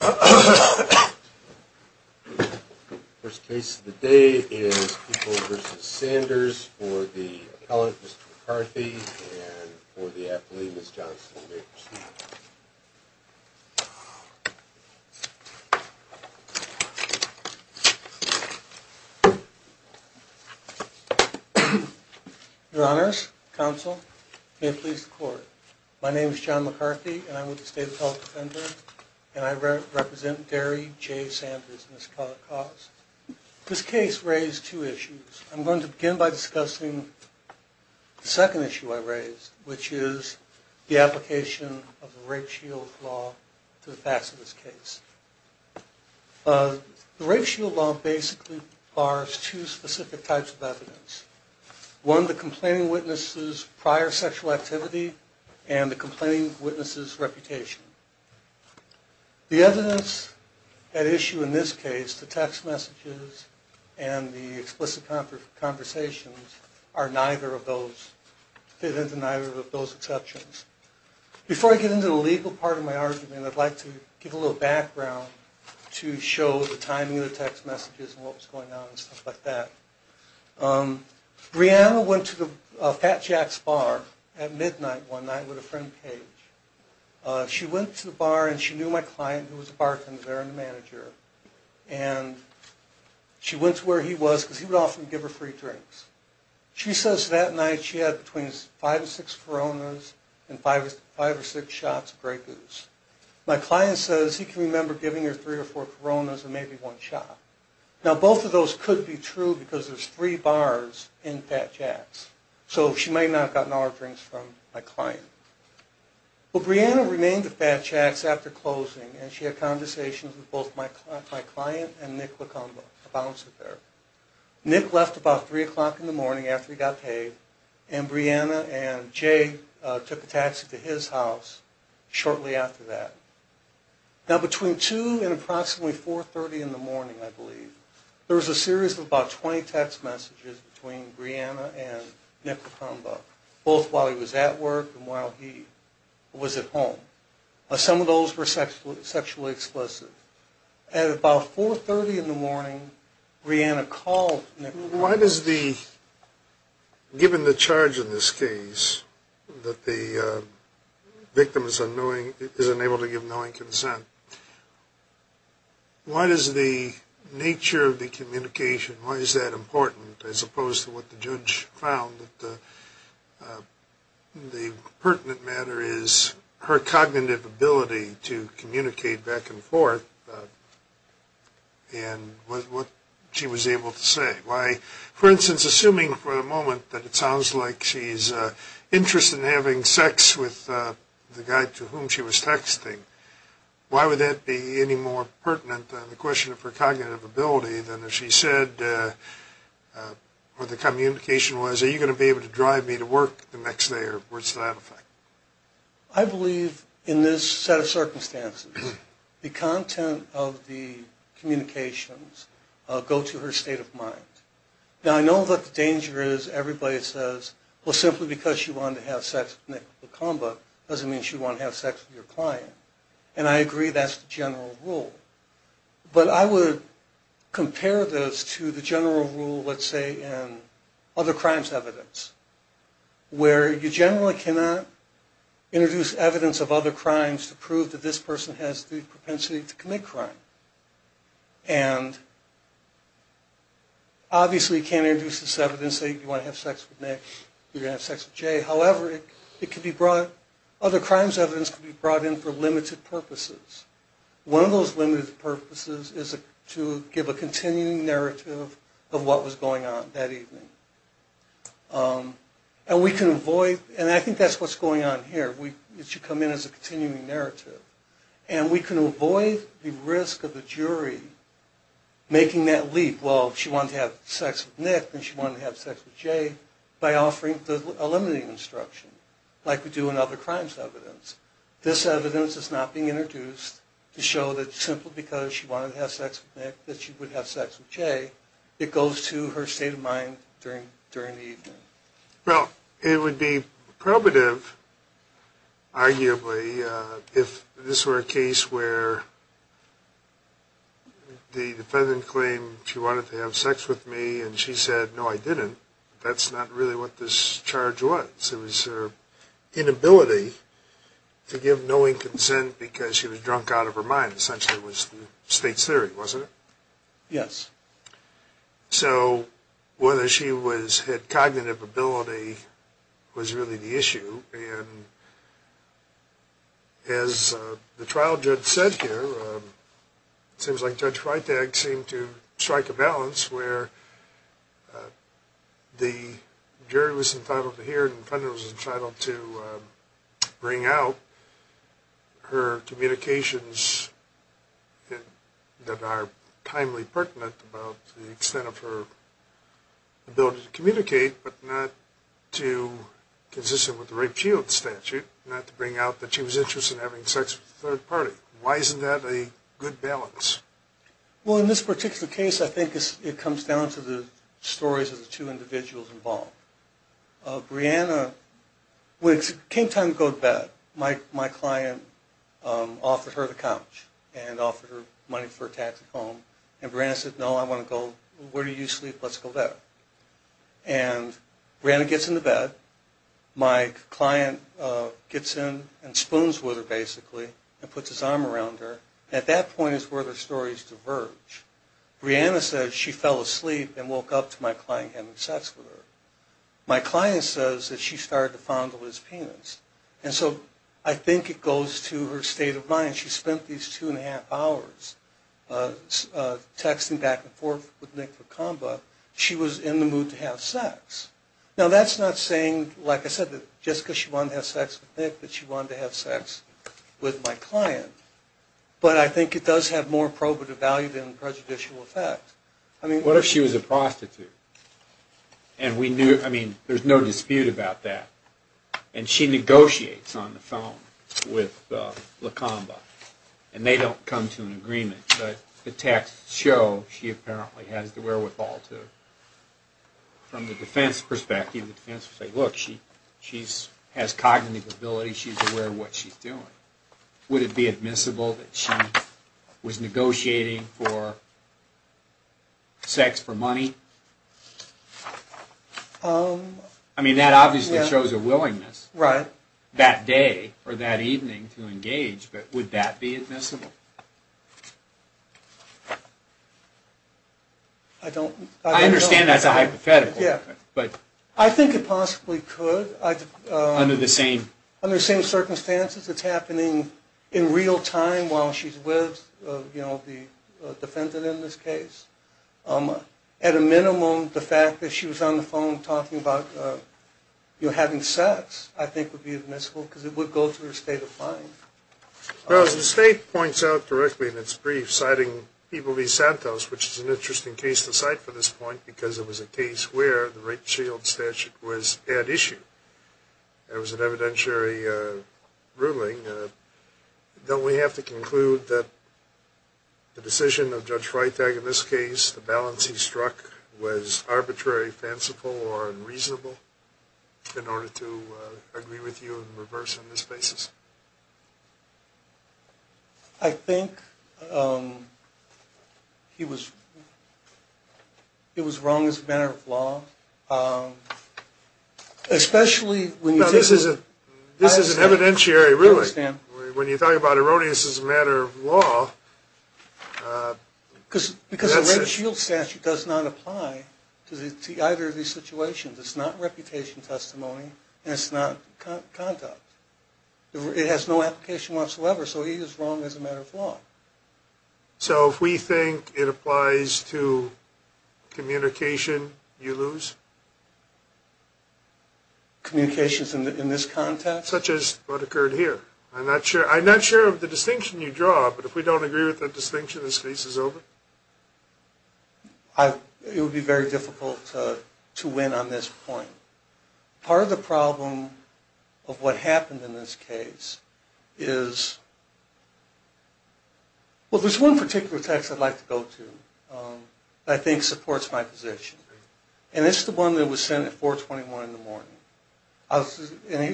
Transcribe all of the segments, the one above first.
First case of the day is People v. Sanders for the appellant, Mr. McCarthy, and for the athlete, Ms. Johnson, may it please the court. Your honors, counsel, may it please the court. My name is John McCarthy, and I'm with the State Appellate Defender, and I represent Derry J. Sanders, Ms. Cox. This case raised two issues. I'm going to begin by discussing the second issue I raised, which is the application of the rape shield law to the facts of this case. One, the complaining witness's prior sexual activity, and the complaining witness's reputation. The evidence at issue in this case, the text messages and the explicit conversations, are neither of those, fit into neither of those exceptions. Before I get into the legal part of my argument, I'd like to give a little background to show the timing of the text messages and what was going on and stuff like that. Breanna went to the Fat Jack's bar at midnight one night with a friend, Paige. She went to the bar and she knew my client, who was a bartender there and a manager, and she went to where he was because he would often give her free drinks. She says that night she had between five or six Coronas and five or six shots of Grey Goose. My client says he can remember giving her three or four Coronas and maybe one shot. Now both of those could be true because there's three bars in Fat Jack's, so she may not have gotten all her drinks from my client. Well, Breanna remained at Fat Jack's after closing and she had conversations with both my client and Nick LaComba, a bouncer there. Nick left about three o'clock in the morning after he got paid, and Breanna and Jay took a taxi to his house shortly after that. Now between two and approximately 4.30 in the morning, I believe, there was a series of about 20 text messages between Breanna and Nick LaComba, both while he was at work and while he was at home. Some of those were sexually explicit. At about 4.30 in the morning, Breanna called Nick LaComba. Why does the, given the charge in this case that the victim is unknowing, is unable to give knowing consent, why does the nature of the communication, why is that important as opposed to what the judge found that the pertinent matter is her cognitive ability to communicate back and forth and what she was able to say? For instance, assuming for the moment that it sounds like she's interested in having sex with the guy to whom she was texting, why would that be any more pertinent than the question of her cognitive ability than if she said what the communication was, are you going to be able to drive me to work the next day or what's the matter? I believe in this set of circumstances, the content of the communications go to her state of mind. Now I know what the danger is, everybody says, well simply because she wanted to have sex with Nick LaComba doesn't mean she'd want to have sex with your client. And I agree that's the general rule. But I would compare this to the general rule, let's say, in other crimes evidence, where you generally cannot introduce evidence of other crimes to prove that this person has the propensity to commit crime. And obviously you can't introduce this evidence, say you want to have sex with Nick, you're going to have sex with Jay, however it can be brought, other crimes evidence can be brought in for limited purposes. One of those limited purposes is to give a continuing narrative of what was going on that evening. And we can avoid, and I think that's what's going on here, it should come in as a continuing narrative. And we can avoid the risk of the jury making that leap, well if she wanted to have sex with Nick, then she wanted to have sex with Jay, by offering the eliminating instruction, like we do in other crimes evidence. This evidence is not being introduced to show that simply because she wanted to have sex with Nick, that she would have sex with Jay. It goes to her state of mind during the evening. Well, it would be probative, arguably, if this were a case where the defendant claimed she wanted to have sex with me and she said no I didn't, that's not really what this charge was. It was her inability to give knowing consent because she was drunk out of her mind, essentially was the state's theory, wasn't it? Yes. So, whether she had cognitive ability was really the issue, and as the trial judge said here, it seems like Judge Freitag seemed to strike a balance where the jury was entitled to hear, the defendant was entitled to bring out her communications that are timely pertinent about the extent of her ability to communicate, but not to consistent with the rape shield statute, not to bring out that she was interested in having sex with a third party. Why isn't that a good balance? Well, in this particular case, I think it comes down to the stories of the two individuals involved. Brianna, when it came time to go to bed, my client offered her the couch and offered her money for a taxi home, and Brianna said, no, I want to go, where do you sleep, let's go there. And Brianna gets in the bed, my client gets in and spoons with her, basically, and puts his arm around her, and at that point is where their stories diverge. Brianna says she fell asleep and woke up to my client having sex with her. My client says that she started to fondle his penis, and so I think it goes to her state of mind, she spent these two and a half hours texting back and forth with Nick Vekomba, she was in the mood to have sex. Now that's not saying, like I said, that just because she wanted to have sex with Nick, that she wanted to have sex with my client, but I think it does have more probative value than prejudicial effect. What if she was a prostitute, and we knew, I mean, there's no dispute about that, and she negotiates on the phone with Vekomba, and they don't come to an agreement, but the texts show she apparently has the wherewithal to, from the defense perspective, look, she has cognitive ability, she's aware of what she's doing, would it be admissible that she was negotiating for sex for money? I mean, that obviously shows a willingness that day or that evening to engage, but would that be admissible? I don't know. I understand that's a hypothetical. I think it possibly could, under the same circumstances, it's happening in real time while she's with the defendant in this case. At a minimum, the fact that she was on the phone talking about having sex, I think would be admissible, because it would go to her state of mind. Well, as the state points out directly in its brief, citing Ivelisse Santos, which is an interesting case to cite for this point, because it was a case where the rape shield statute was at issue. There was an evidentiary ruling. Don't we have to conclude that the decision of Judge Freitag in this case, the balance he struck, was arbitrary, fanciful, or unreasonable in order to agree with you and reverse on this basis? I think it was wrong as a matter of law, especially when you think of it as an evidentiary ruling. I understand. When you talk about erroneous as a matter of law, that's it. Because the rape shield statute does not apply to either of these situations. It's not reputation testimony, and it's not conduct. It has no application whatsoever, so it is wrong as a matter of law. So if we think it applies to communication, you lose? Communications in this context? Such as what occurred here. I'm not sure of the distinction you draw, but if we don't agree with that distinction, this case is over. It would be very difficult to win on this point. Part of the problem of what happened in this case is, well, there's one particular text I'd like to go to that I think supports my position. And it's the one that was sent at 421 in the morning.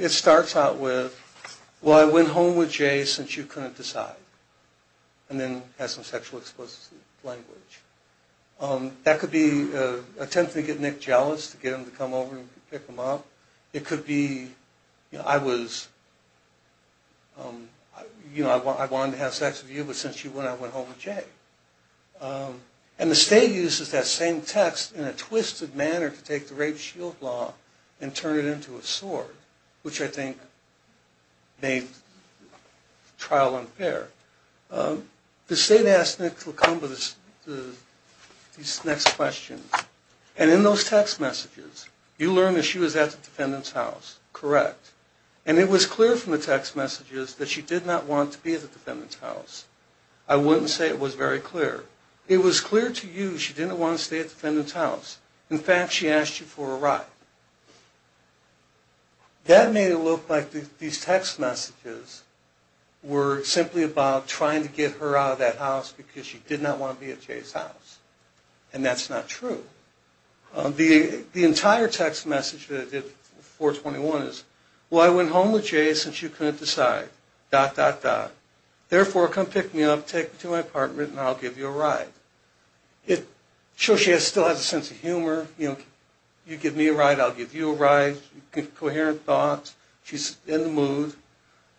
It starts out with, well, I went home with Jay since you couldn't decide. And then has some sexual explosive language. That could be an attempt to get Nick jealous, to get him to come over and pick him up. It could be, you know, I was, you know, I wanted to have sex with you, but since you wouldn't, I went home with Jay. And the state uses that same text in a twisted manner to take the rape shield law and turn it into a sword, which I think made trial unfair. The state asked Nick to come to these next questions. And in those text messages, you learned that she was at the defendant's house, correct. And it was clear from the text messages that she did not want to be at the defendant's house. I wouldn't say it was very clear. It was clear to you she didn't want to stay at the defendant's house. In fact, she asked you for a ride. That made it look like these text messages were simply about trying to get her out of that house because she did not want to be at Jay's house. And that's not true. The entire text message that I did with 421 is, well, I went home with Jay since you couldn't decide, dot, dot, dot. Therefore, come pick me up, take me to my apartment, and I'll give you a ride. It shows she still has a sense of humor. You give me a ride, I'll give you a ride. Coherent thoughts. She's in the mood.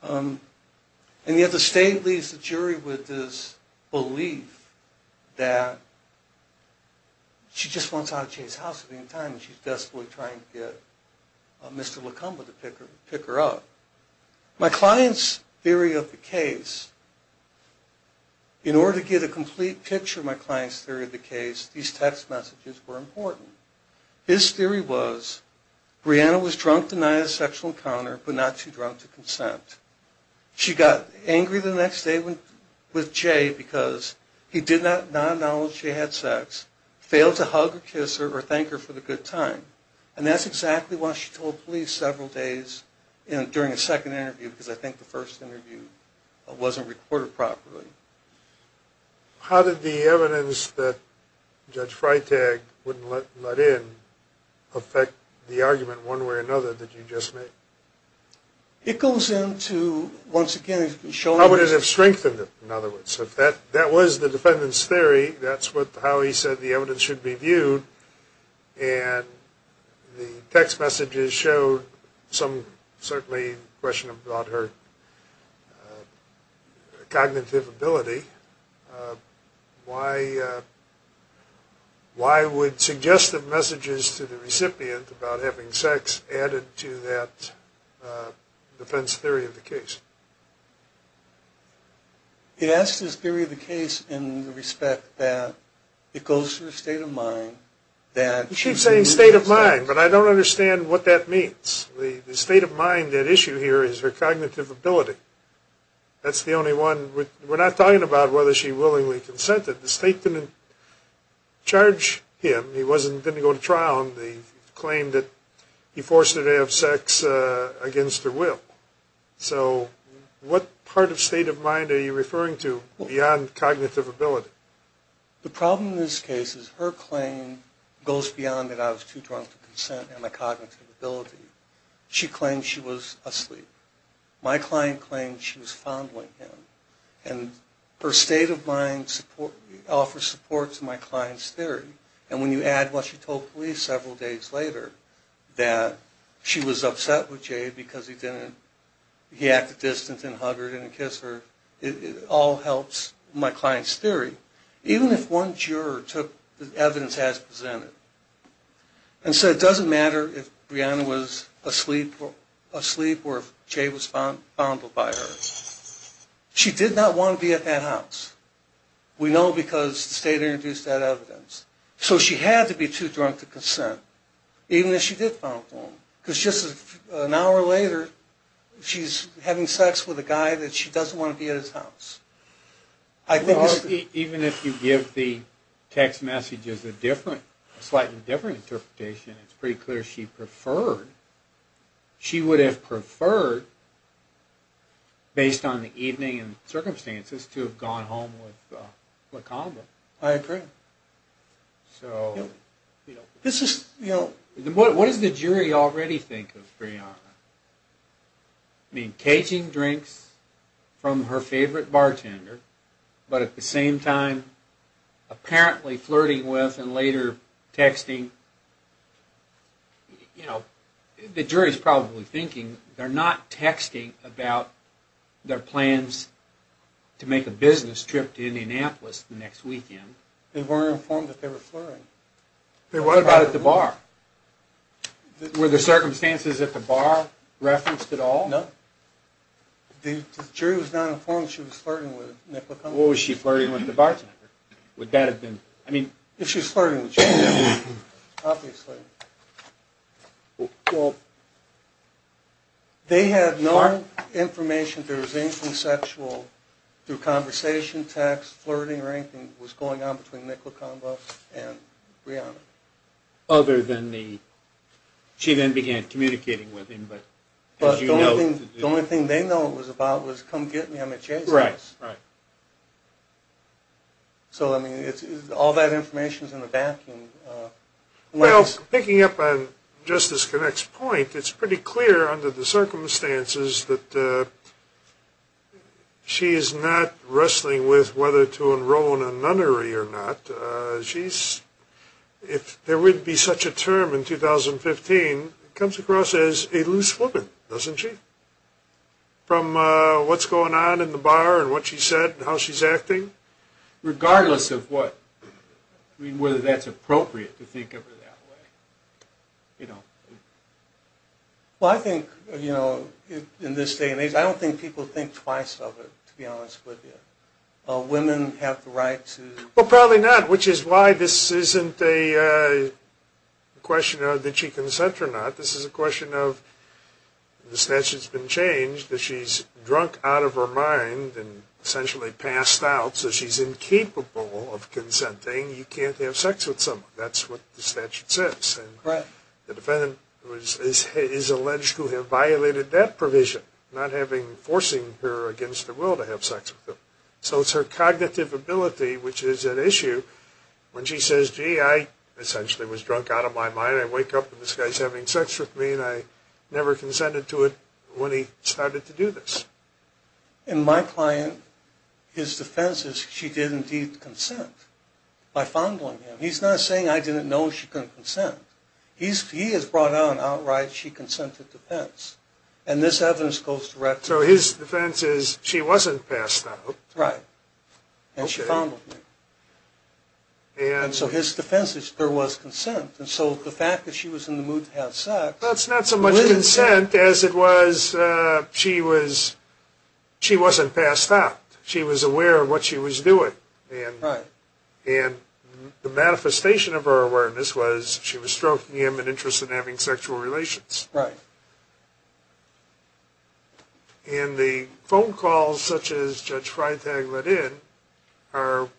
And yet the state leaves the jury with this belief that she just wants out of Jay's house at any time and she's desperately trying to get Mr. LaComba to pick her up. My client's theory of the case, in order to get a complete picture of my client's theory of the case, these text messages were important. His theory was, Brianna was drunk the night of the sexual encounter but not too drunk to consent. She got angry the next day with Jay because he did not acknowledge Jay had sex, failed to hug or kiss her or thank her for the good time. And that's exactly what she told police several days during the second interview because I think the first interview wasn't recorded properly. How did the evidence that Judge Freitag wouldn't let in affect the argument one way or another that you just made? It goes into, once again, showing... How would it have strengthened it, in other words? If that was the defendant's theory, that's how he said the evidence should be viewed and the text messages showed some, certainly, question about her cognitive ability why would suggestive messages to the recipient about having sex added to that defendant's theory of the case? He asked his theory of the case in respect that it goes through a state of mind that... You keep saying state of mind, but I don't understand what that means. The state of mind at issue here is her cognitive ability. That's the only one... We're not talking about whether she willingly consented. The state didn't charge him. He didn't go to trial. He claimed that he forced her to have sex against her will. So what part of state of mind are you referring to beyond cognitive ability? The problem in this case is her claim goes beyond that I was too drunk to consent and my cognitive ability. She claimed she was asleep. My client claimed she was fondling him. Her state of mind offers support to my client's theory and when you add what she told police several days later that she was upset with Jay because he acted distant and hugged her, didn't kiss her it all helps my client's theory. Even if one juror took the evidence as presented. And said it doesn't matter if Brianna was asleep or if Jay was fondled by her. She did not want to be at that house. We know because the state introduced that evidence. So she had to be too drunk to consent even if she did fondle him. Because just an hour later she's having sex with a guy that she doesn't want to be at his house. Even if you give the text messages a slightly different interpretation it's pretty clear she preferred, she would have preferred based on the evening and circumstances to have gone home with LaComba. I agree. What does the jury already think of Brianna? Caging drinks from her favorite bartender but at the same time apparently flirting with and later texting. The jury is probably thinking they're not texting about their plans to make a business trip to Indianapolis the next weekend. They weren't informed that they were flirting. What about at the bar? No. The jury was not informed she was flirting with LaComba. What was she flirting with the bartender? If she was flirting with Jay, obviously. They had no information there was anything sexual through conversation, text, flirting or anything that was going on between LaComba and Brianna. She then began communicating with him. The only thing they know it was about was come get me I'm at Jay's house. All that information is in the vacuum. Picking up on Justice Connick's point it's pretty clear under the circumstances that she is not wrestling with whether to enroll in a nunnery or not. If there would be such a term in 2015 it comes across as a loose woman, doesn't she? From what's going on in the bar and what she said and how she's acting? Regardless of whether that's appropriate to think of it that way. I think in this day and age I don't think people think twice of it to be honest with you. Women have the right to... Probably not, which is why this isn't a question of did she consent or not. This is a question of the statute has been changed that she's drunk out of her mind and essentially passed out so she's incapable of consenting. You can't have sex with someone. That's what the statute says. The defendant is alleged to have violated that provision not forcing her against her will to have sex with him. So it's her cognitive ability which is at issue when she says gee I essentially was drunk out of my mind I wake up and this guy's having sex with me and I never consented to it when he started to do this. And my client, his defense is she did indeed consent by fondling him. He's not saying I didn't know she couldn't consent. He has brought out an outright she consented defense and this evidence goes directly... So his defense is she wasn't passed out. Right. And she fondled him. And so his defense is there was consent and so the fact that she was in the mood to have sex... That's not so much consent as it was she wasn't passed out. She was aware of what she was doing. And the manifestation of her awareness was she was stroking him and interested in having sexual relations. And the phone calls such as Judge Freitag let in are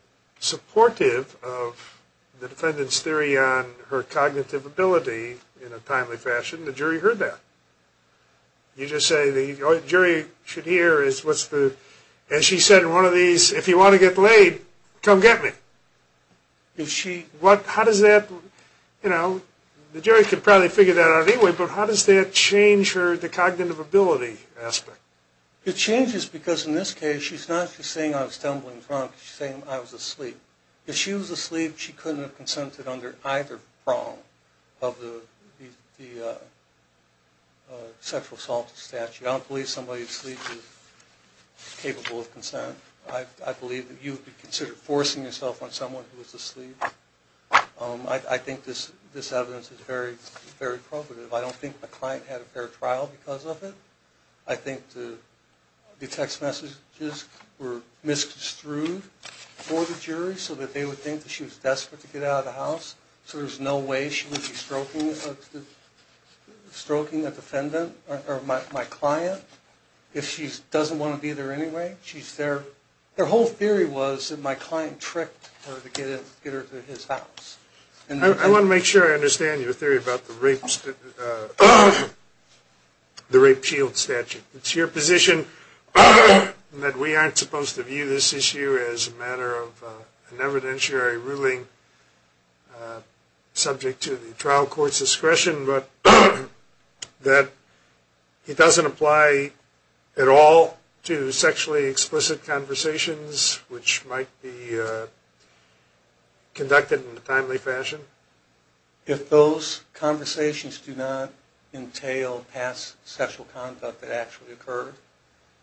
supportive of the defendant's theory on her cognitive ability in a timely fashion. The jury heard that. You just say the jury should hear is what's the... And she said in one of these if you want to get laid come get me. How does that... The jury could probably figure that out anyway but how does that change the cognitive ability aspect? It changes because in this case she's not just saying I was tumbling drunk she's saying I was asleep. If she was asleep she couldn't have consented under either prong of the sexual assault statute. I don't believe somebody asleep is capable of consent. I think this evidence is very probative. I don't think my client had a fair trial because of it. I think the text messages were misconstrued for the jury so that they would think that she was desperate to get out of the house so there's no way she would be stroking a defendant or my client if she doesn't want to be there anyway. Their whole theory was that my client tricked her to get her to his house. I want to make sure I understand your theory about the rape shield statute. It's your position that we aren't supposed to view this issue as a matter of an evidentiary ruling subject to the trial court's discretion but that it doesn't apply at all to sexually explicit conversations which might be conducted in a timely fashion? If those conversations do not entail past sexual conduct that actually occurred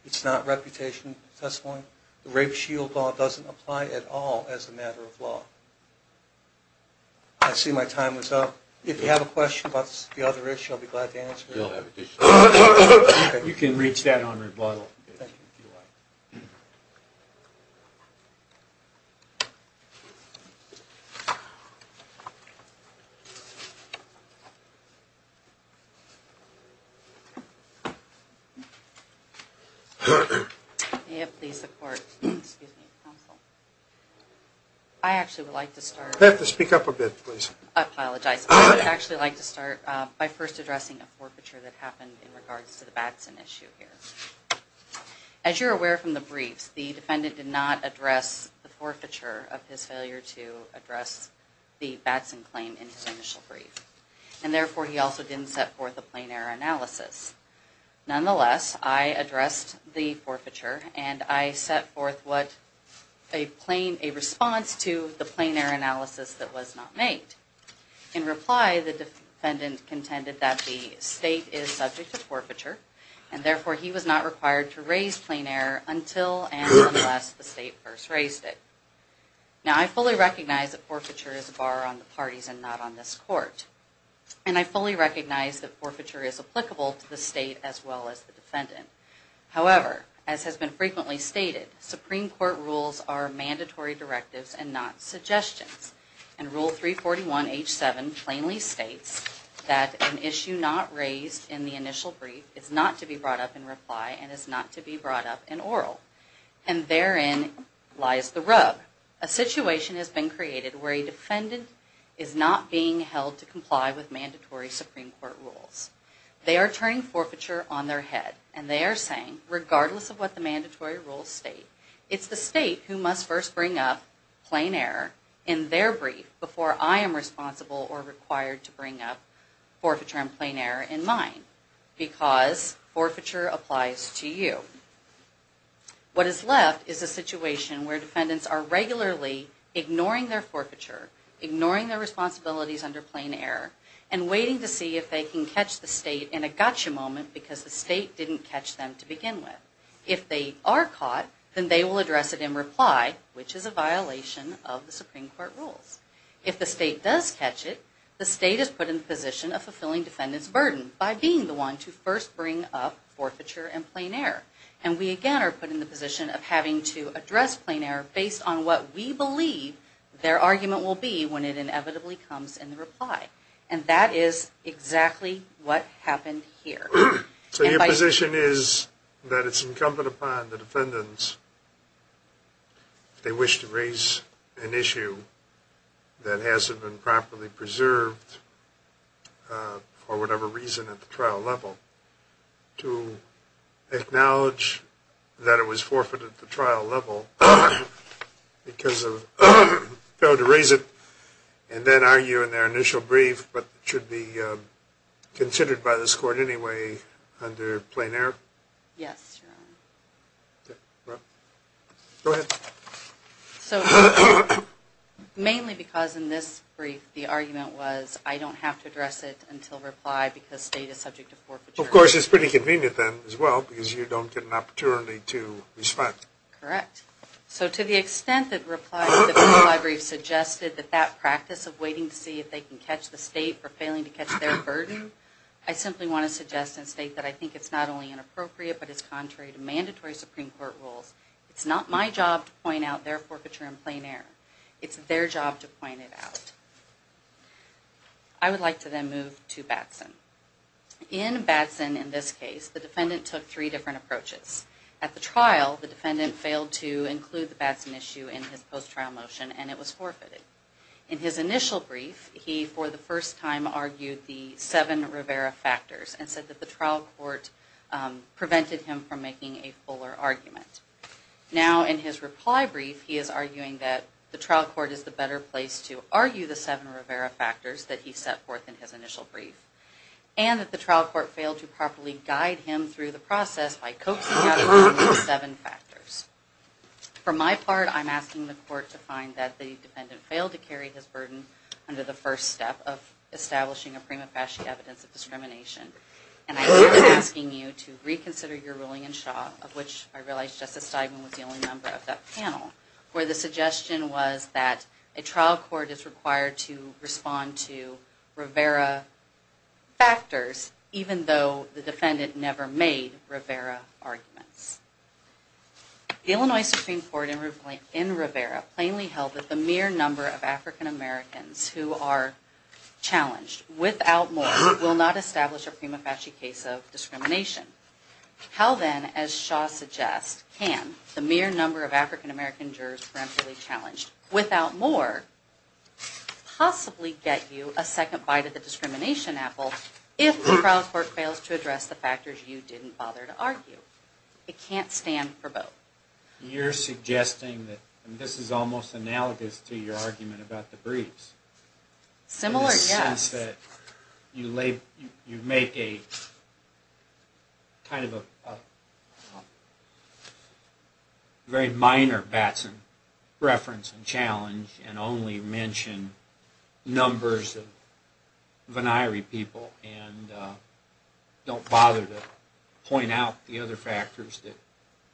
it's not reputation testifying. The rape shield law doesn't apply at all as a matter of law. I see my time is up. If you have a question about the other issue I'll be glad to answer it. You can reach that on rebuttal. I actually would like to start by first addressing a forfeiture that happened in regards to the Batson issue. As you're aware from the briefs the defendant did not address the forfeiture of his failure to address the Batson claim in his initial brief and therefore he also didn't set forth a plain error analysis. Nonetheless I addressed the forfeiture and I set forth a response to the plain error analysis that was not made. In reply the defendant contended that the state is subject to forfeiture and therefore he was not required to raise plain error until and unless the state first raised it. Now I fully recognize that forfeiture is a bar on the parties and not on this court and I fully recognize that forfeiture is applicable to the state as well as the defendant. However, as has been frequently stated Supreme Court rules are mandatory directives and not suggestions and Rule 341H7 plainly states that an issue not raised in the initial brief is not to be brought up in reply and is not to be brought up in oral and therein lies the rub. Therefore a situation has been created where a defendant is not being held to comply with mandatory Supreme Court rules. They are turning forfeiture on their head and they are saying regardless of what the mandatory rules state it's the state who must first bring up plain error in their brief before I am responsible or required to bring up forfeiture and plain error in mine because forfeiture applies to you. What is left is a situation where defendants are regularly ignoring their forfeiture, ignoring their responsibilities under plain error and waiting to see if they can catch the state in a gotcha moment because the state didn't catch them to begin with. If they are caught then they will address it in reply which is a violation of the Supreme Court rules. If the state does catch it, the state is put in the position of fulfilling defendants burden by being the one to first bring up forfeiture and plain error and we again are put in the position of having to address plain error based on what we believe their argument will be when it inevitably comes in reply and that is exactly what happened here. So your position is that it's incumbent upon the defendants if they wish to raise an issue that hasn't been properly preserved for whatever reason at the trial level to acknowledge that it was forfeited at the trial level because of failure to raise it and then argue in their initial brief that it should be considered by this court anyway under plain error? Yes, Your Honor. Go ahead. So mainly because in this brief the argument was I don't have to address it until reply because state is subject to forfeiture. Of course it's pretty convenient then as well because you don't get an opportunity to respect. Correct. So to the extent that reply suggested that that practice of waiting to see if they can catch the state for failing to catch their burden, I simply want to suggest and state that I think it's not only inappropriate but it's contrary to mandatory Supreme Court rules. It's not my job to point out their forfeiture in plain error. It's their job to point it out. I would like to then move to Batson. In Batson in this case the defendant took three different approaches. At the trial the defendant failed to include the Batson issue in his post-trial motion and it was forfeited. In his initial brief he for the first time argued the seven Rivera factors and said that the trial court prevented him from making a fuller argument. Now in his reply brief he is arguing that the trial court is the better place to argue the seven Rivera factors that he set forth in his initial brief and that the trial court failed to properly guide him through the process by coaxing him out of arguing the seven factors. For my part I'm asking the court to find that the defendant failed to carry his burden under the first step of establishing a prima facie evidence of discrimination and I'm asking you to reconsider your ruling in Shaw of which I realize Justice Steigman was the only member of that panel where the suggestion was that a trial court is required to respond to Rivera factors even though the defendant never made Rivera arguments. The Illinois Supreme Court in Rivera plainly held that the mere number of African Americans who are challenged without more will not establish a prima facie case of discrimination. How then, as Shaw suggests, can the mere number of African American jurors without more possibly get you a second bite of the discrimination apple if the trial court fails to address the factors you didn't bother to argue? It can't stand for both. You're suggesting that this is almost analogous to your argument about the briefs in the sense that you make a kind of a very minor Batson reference and challenge and only mention numbers of and don't bother to point out the other factors that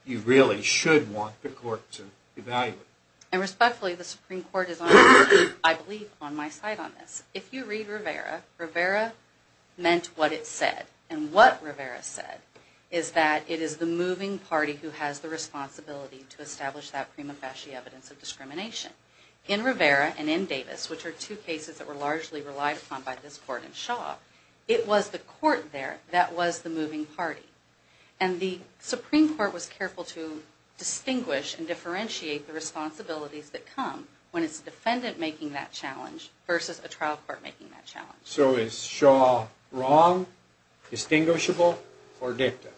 you really should want the court to evaluate. And respectfully, the Supreme Court is, I believe, on my side on this. If you read Rivera, Rivera meant what it said. And what Rivera said is that it is the moving party who has the responsibility to establish that prima facie evidence of discrimination. In Rivera and in Davis, which are two cases that were largely relied upon by this court and Shaw, it was the court there that was the moving party. And the Supreme Court was careful to differentiate the responsibilities that come when it's a defendant making that challenge versus a trial court making that challenge. So is Shaw wrong, distinguishable, or dicta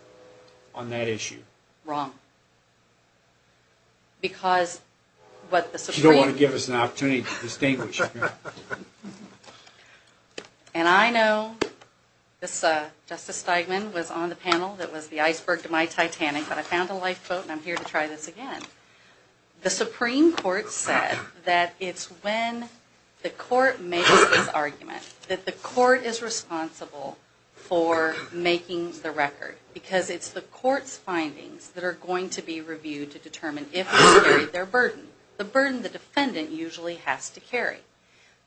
on that issue? Wrong. You don't want to give us an opportunity to distinguish. And I know Justice Steigman was on the panel that was the iceberg to my Titanic but I found a lifeboat and I'm here to try this again. The Supreme Court said that it's when the court makes this argument that the court is responsible for making the record because it's the court's findings that are going to be reviewed to determine if it's carried their burden, the burden the defendant usually has to carry.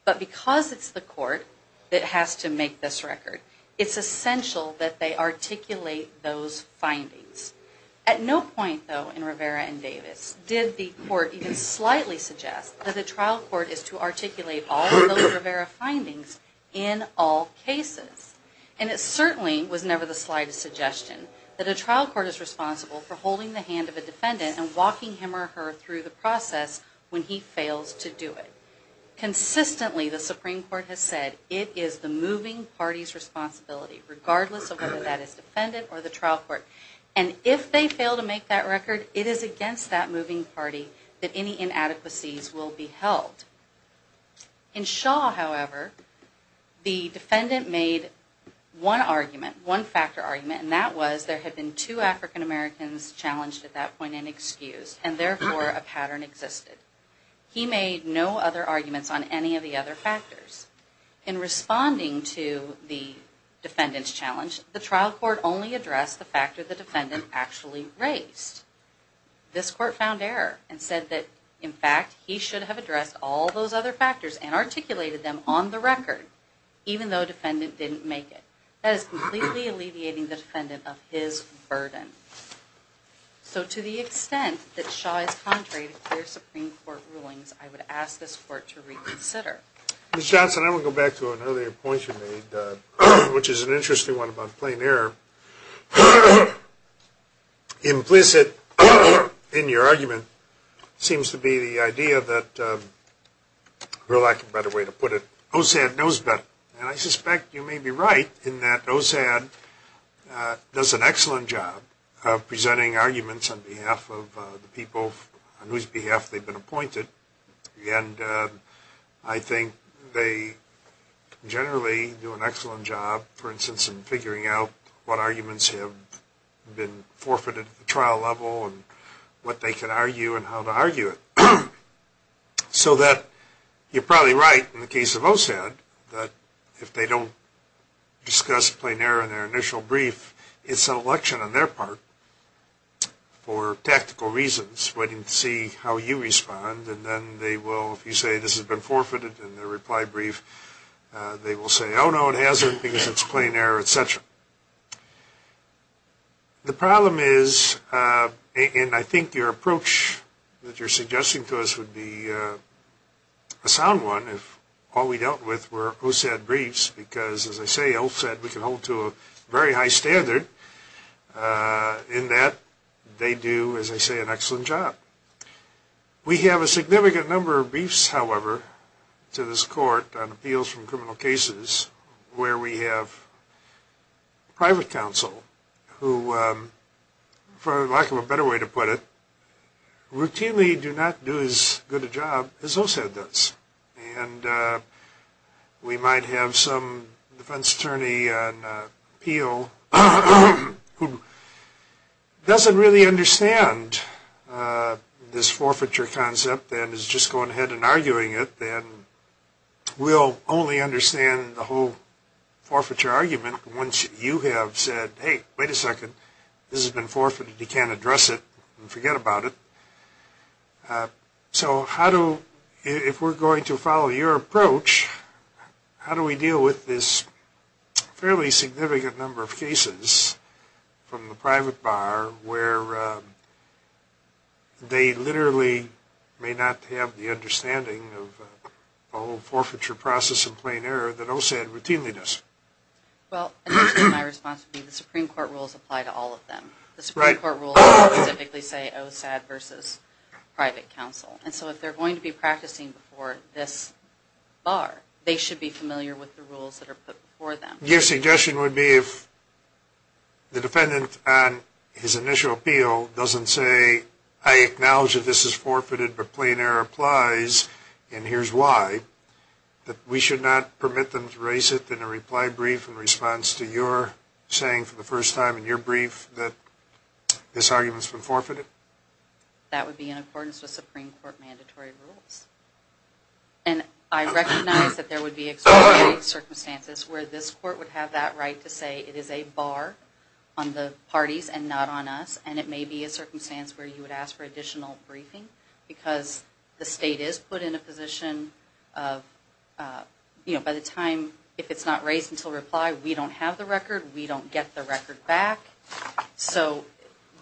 But because it's the court that has to make this record, it's essential that they articulate those findings. At no point, though, in Rivera and Davis did the court even slightly suggest that the trial court is to articulate all of those Rivera findings in all cases. And it certainly was never the slightest suggestion that a trial court is responsible for holding the hand of a defendant and walking him or her through the process when he fails to do it. Consistently, the Supreme Court has said it is the moving party's responsibility regardless of whether that is the defendant or the trial court. And if they fail to make that record, it is against that moving party that any inadequacies will be held. In Shaw, however, the defendant made one argument, one factor argument, and that was there had been two African Americans challenged at that point and excused and therefore a pattern existed. He made no other arguments on any of the other factors. In responding to the defendant's challenge, the trial court only addressed the factor the defendant actually raised. This court found error and said that, in fact, he should have addressed all those other factors and articulated them on the record, even though the defendant didn't make it. That is completely alleviating the defendant of his burden. So to the extent that Shaw is contrary to clear Supreme Court rulings, I would ask this court to reconsider. Ms. Johnson, I want to go back to an earlier point you made, which is an interesting one about plain error. Implicit in your argument seems to be the idea that, for lack of a better way to put it, OSAD knows better and I suspect you may be right in that OSAD does an excellent job of presenting arguments on behalf of the people on whose behalf they've been appointed and I think they generally do an excellent job, for instance, in figuring out what arguments have been forfeited at the trial level and what they can argue and how to argue it. So that you're probably right in the case of OSAD that if they don't discuss plain error in their initial brief, it's an election on their part for tactical reasons, waiting to see how you respond and then they will, if you say this has been forfeited in their reply brief, they will say, oh no, it hasn't because it's plain error, etc. The problem is, and I think your approach that you're suggesting to us would be a sound one, if all we dealt with were OSAD briefs, because as I say, OSAD we can hold to a very high standard in that they do, as I say, an excellent job. We have a significant number of briefs, however, to this court on appeals from criminal cases where we have private counsel who, for lack of a better way to put it, routinely do not do as good a job as OSAD does. And we might have some defense attorney on appeal who doesn't really understand this forfeiture concept and is just going ahead and arguing it and will only understand the whole forfeiture argument once you have said, hey, wait a second, this has been forfeited, you can't address it and forget about it. So if we're going to follow your approach, how do we deal with this fairly significant number of cases from the private bar where they literally may not have the understanding of the whole forfeiture process in plain error that OSAD routinely does? Well, initially my response would be the Supreme Court rules apply to all of them. The Supreme Court rules specifically say OSAD versus private counsel. And so if they're going to be practicing before this bar, they should be familiar with the rules that are put before them. Your suggestion would be if the defendant on his initial appeal doesn't say, I acknowledge that this is forfeited, but plain error applies and here's why, that we should not permit them to raise it in a reply brief in response to your saying for the first time in your brief that this argument has been forfeited? That would be in accordance with Supreme Court mandatory rules. And I recognize that there would be extraordinary circumstances where this Court would have that right to say it is a bar on the parties and not on us. And it may be a circumstance where you would ask for additional briefing because the state is put in a position of, you know, by the time if it's not raised until reply, we don't have the record, we don't get the record back. So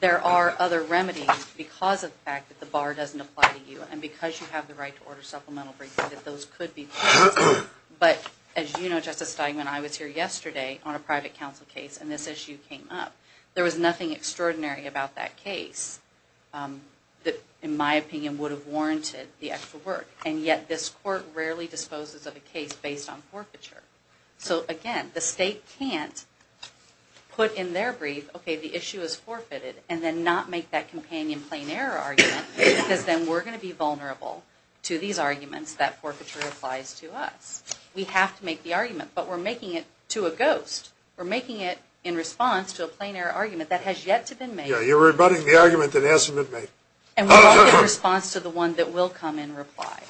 there are other remedies because of the fact that the bar doesn't apply to you and because you have the right to order supplemental briefing that those could be forfeited. But as you know, Justice Steinman, I was here yesterday on a private counsel case and this issue came up. There was nothing extraordinary about that case that, in my opinion, would have warranted the extra work. And yet this Court rarely disposes of a case based on forfeiture. So again, the state can't put in their brief, okay, the issue is forfeited, and then not make that companion plain error argument because then we're going to be vulnerable to these arguments that forfeiture applies to us. We have to make the argument, but we're making it to a ghost. We're making it in response to a plain error argument that has yet to be made. And we're making it in response to the one that will come in reply.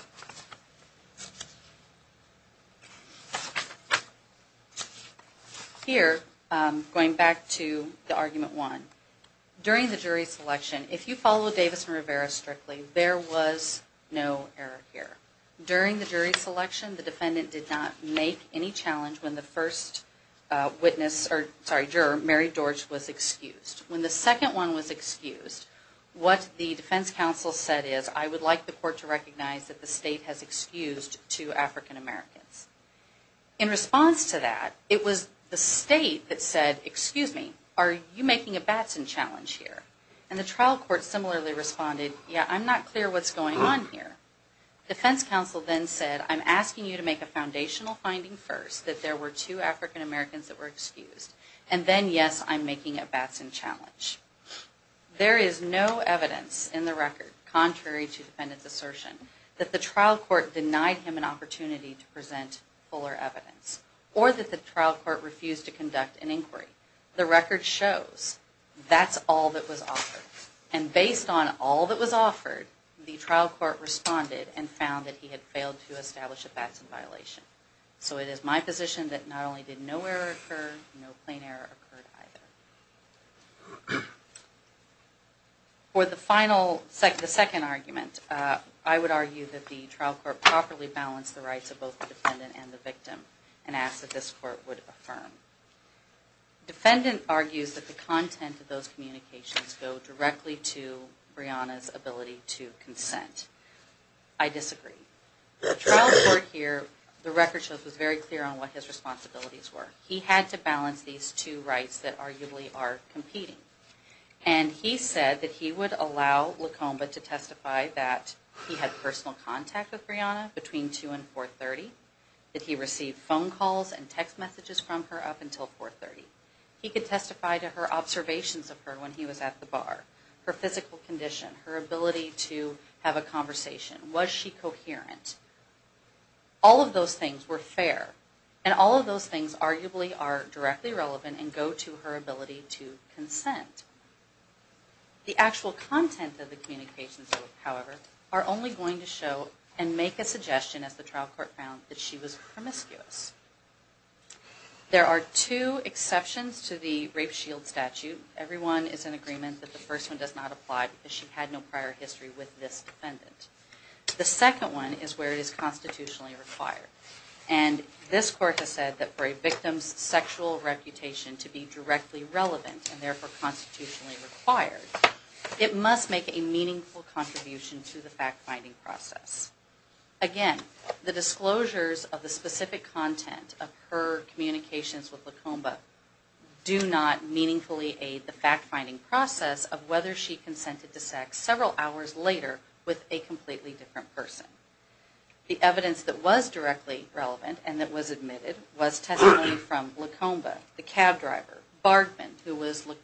Here, going back to the argument one, during the jury selection, if you follow Davis and Rivera's argument strictly, there was no error here. During the jury selection, the defendant did not make any challenge when the first juror, Mary George, was excused. When the second one was excused, what the defense counsel said is, I would like the Court to recognize that the state has excused two African Americans. In response to that, it was the state that said, excuse me, are you making a Batson challenge here? And the trial court similarly responded, yeah, I'm not clear what's going on here. The defense counsel then said, I'm asking you to make a foundational finding first that there were two African Americans that were excused. And then, yes, I'm making a Batson challenge. There is no evidence in the record, contrary to defendant's assertion, that the trial court denied him an opportunity to present fuller evidence, or that the trial court refused to conduct an inquiry. The record shows that's all that was offered. And based on all that was offered, the trial court responded and found that he had failed to establish a Batson violation. So it is my position that not only did no error occur, no plain error occurred either. For the second argument, I would argue that the trial court properly balanced the rights of both the defendant and the victim and asked that this court would affirm. The defendant argues that the content of those communications go directly to Breonna's ability to consent. I disagree. The trial court here, the record shows, was very clear on what his responsibilities were. He had to balance these two rights that arguably are competing. And he said that he would allow LaComba to testify that he had personal contact with Breonna between 2 and 4.30, that he received phone calls and text messages from her up until 4.30. He could testify to her observations of her when he was at the bar, her physical condition, her ability to have a conversation, was she coherent? All of those things were fair. And all of those things arguably are directly relevant and go to her ability to consent. The actual content of the communications, however, are only going to show and make a suggestion, as the trial court found, that she was promiscuous. There are two exceptions to the rape shield statute. Everyone is in agreement that the first one does not apply because she had no prior history with this defendant. The second one is where it is constitutionally required. And this court has said that for a victim's sexual reputation to be directly relevant and therefore constitutionally required, it must make a meaningful contribution to the fact-finding process. Again, the disclosures of the specific content of her communications with LaComba do not meaningfully aid the fact-finding process of whether she consented to sex several hours later with a completely different person. The evidence that was directly relevant and that was admitted was testimony from LaComba, the cab driver, Bargman, who was the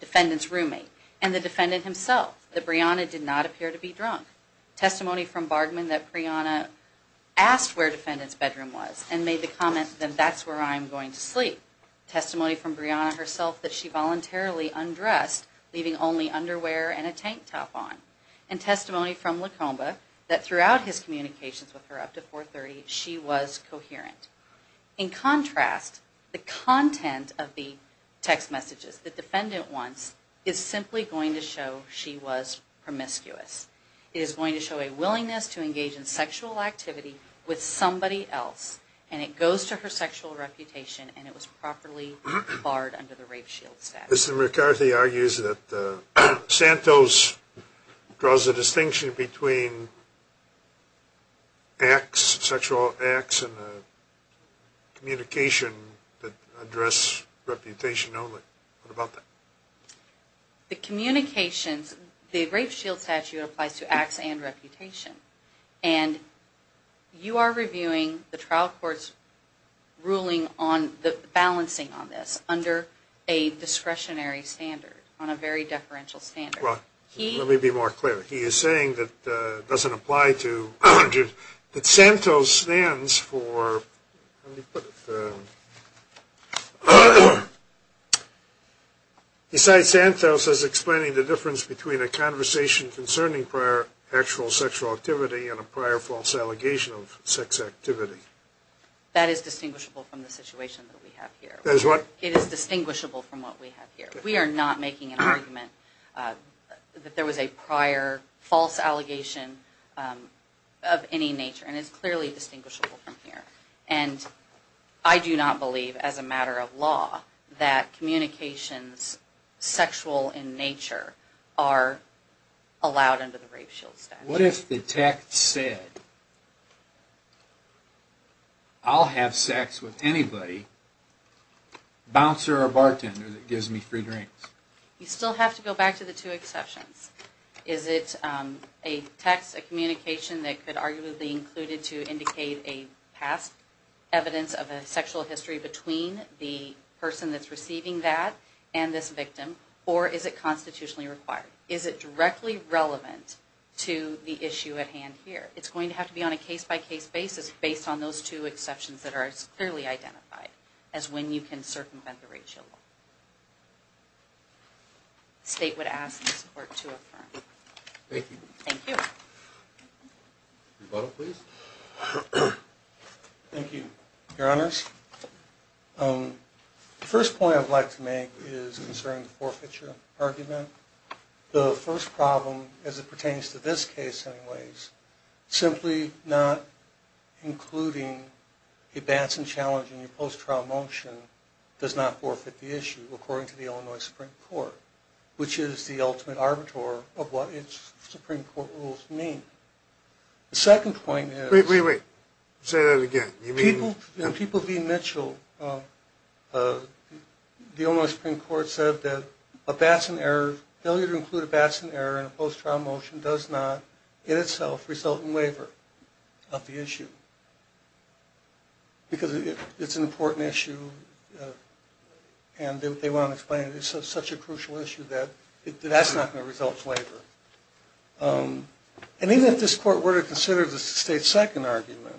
defendant's roommate, and the defendant himself, that Brianna did not appear to be drunk. Testimony from Bargman that Brianna asked where the defendant's bedroom was and made the comment, then, that's where I'm going to sleep. Testimony from Brianna herself that she voluntarily undressed, leaving only underwear and a tank top on. And testimony from LaComba that throughout his communications with her up to 430, she was coherent. In contrast, the content of the text messages the defendant wants is simply going to show she was promiscuous. It is going to show a willingness to engage in sexual activity with somebody else, and it goes to her sexual reputation, and it was properly barred under the rape shield statute. Mr. McCarthy argues that Santos draws a distinction between acts, sexual acts, and communication that address reputation only. What about that? The communications, the rape shield statute applies to acts and reputation, and you are reviewing the trial court's ruling on the balancing on this under a discretionary standard, on a very deferential standard. Well, let me be more clear. He is saying that it doesn't apply to sexual acts, but it does apply to, that Santos stands for, let me put it, besides Santos as explaining the difference between a conversation concerning prior actual sexual activity and a prior false allegation of sex activity. That is distinguishable from the situation that we have here. It is distinguishable from what we have here. We are not making an argument that there was a prior false allegation of any nature, and it is clearly distinguishable from here. And I do not believe, as a matter of law, that communications sexual in nature are allowed under the rape shield statute. What if the tech said, I'll have sex with anybody, a bouncer or bartender that gives me free drinks. You still have to go back to the two exceptions. Is it a text, a communication that could arguably be included to indicate a past evidence of a sexual history between the person that is receiving that and this victim, or is it constitutionally required? Is it directly relevant to the issue at hand here? It is going to have to be on a case-by-case basis based on those two exceptions that are clearly identified as when you can circumvent the rape shield law. The State would ask this Court to affirm. Thank you. Thank you, Your Honors. The first point I would like to make is concerning the forfeiture argument. The first problem, as it pertains to this case anyways, simply not including a Batson challenge in your post-trial motion does not forfeit the issue, according to the Illinois Supreme Court, which is the ultimate arbiter of what its Supreme Court rules mean. The second point is... Wait, wait, wait. Say that again. People being Mitchell, the Illinois Supreme Court said that a Batson error, failure to include a Batson error in a post-trial motion does not in itself result in waiver of the issue because it's an important issue and they want to explain it as such a crucial issue that that's not going to result in waiver. And even if this Court were to consider the State's second argument,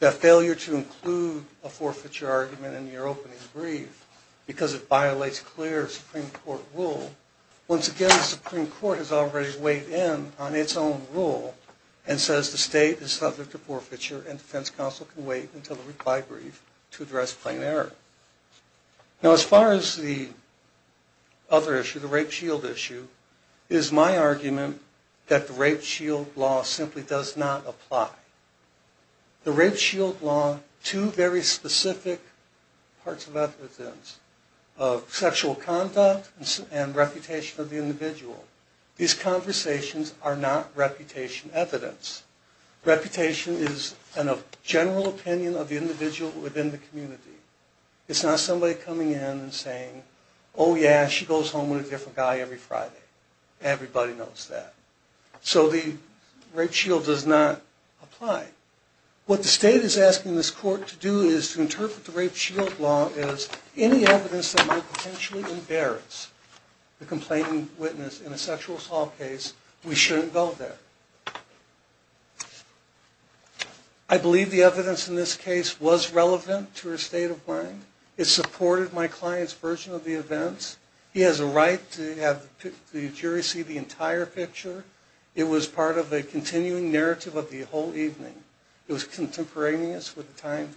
that failure to include a forfeiture argument in your opening brief because it violates clear Supreme Court rule, once again the Supreme Court has already weighed in on its own rule and says the State is subject to forfeiture and defense counsel can wait until the reply brief to address plain error. Now as far as the other issue, the rape shield issue, is my argument that the rape shield law simply does not apply. The rape shield law, two very specific parts of evidence of sexual conduct and reputation of the individual. These conversations are not reputation evidence. Reputation is a general opinion of the individual within the community. It's not somebody coming in and saying, oh yeah, she goes home with a different guy every Friday. Everybody knows that. So the rape shield does not apply. What the State is asking this Court to do is to interpret the rape shield law as any evidence that might potentially embarrass the complaining witness in a sexual assault case, we shouldn't go there. I believe the evidence in this case was relevant to her state of mind. It supported my client's version of the events. He has a right to have the jury see the entire picture. It was part of a continuing narrative of the whole evening. It was contemporaneous with the time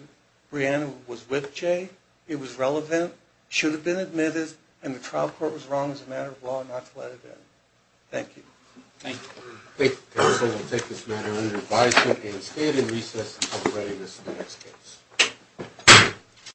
Brianna was with Jay. It was relevant, should have been admitted, and the trial court was wrong as a matter of law not to let it in. Thank you.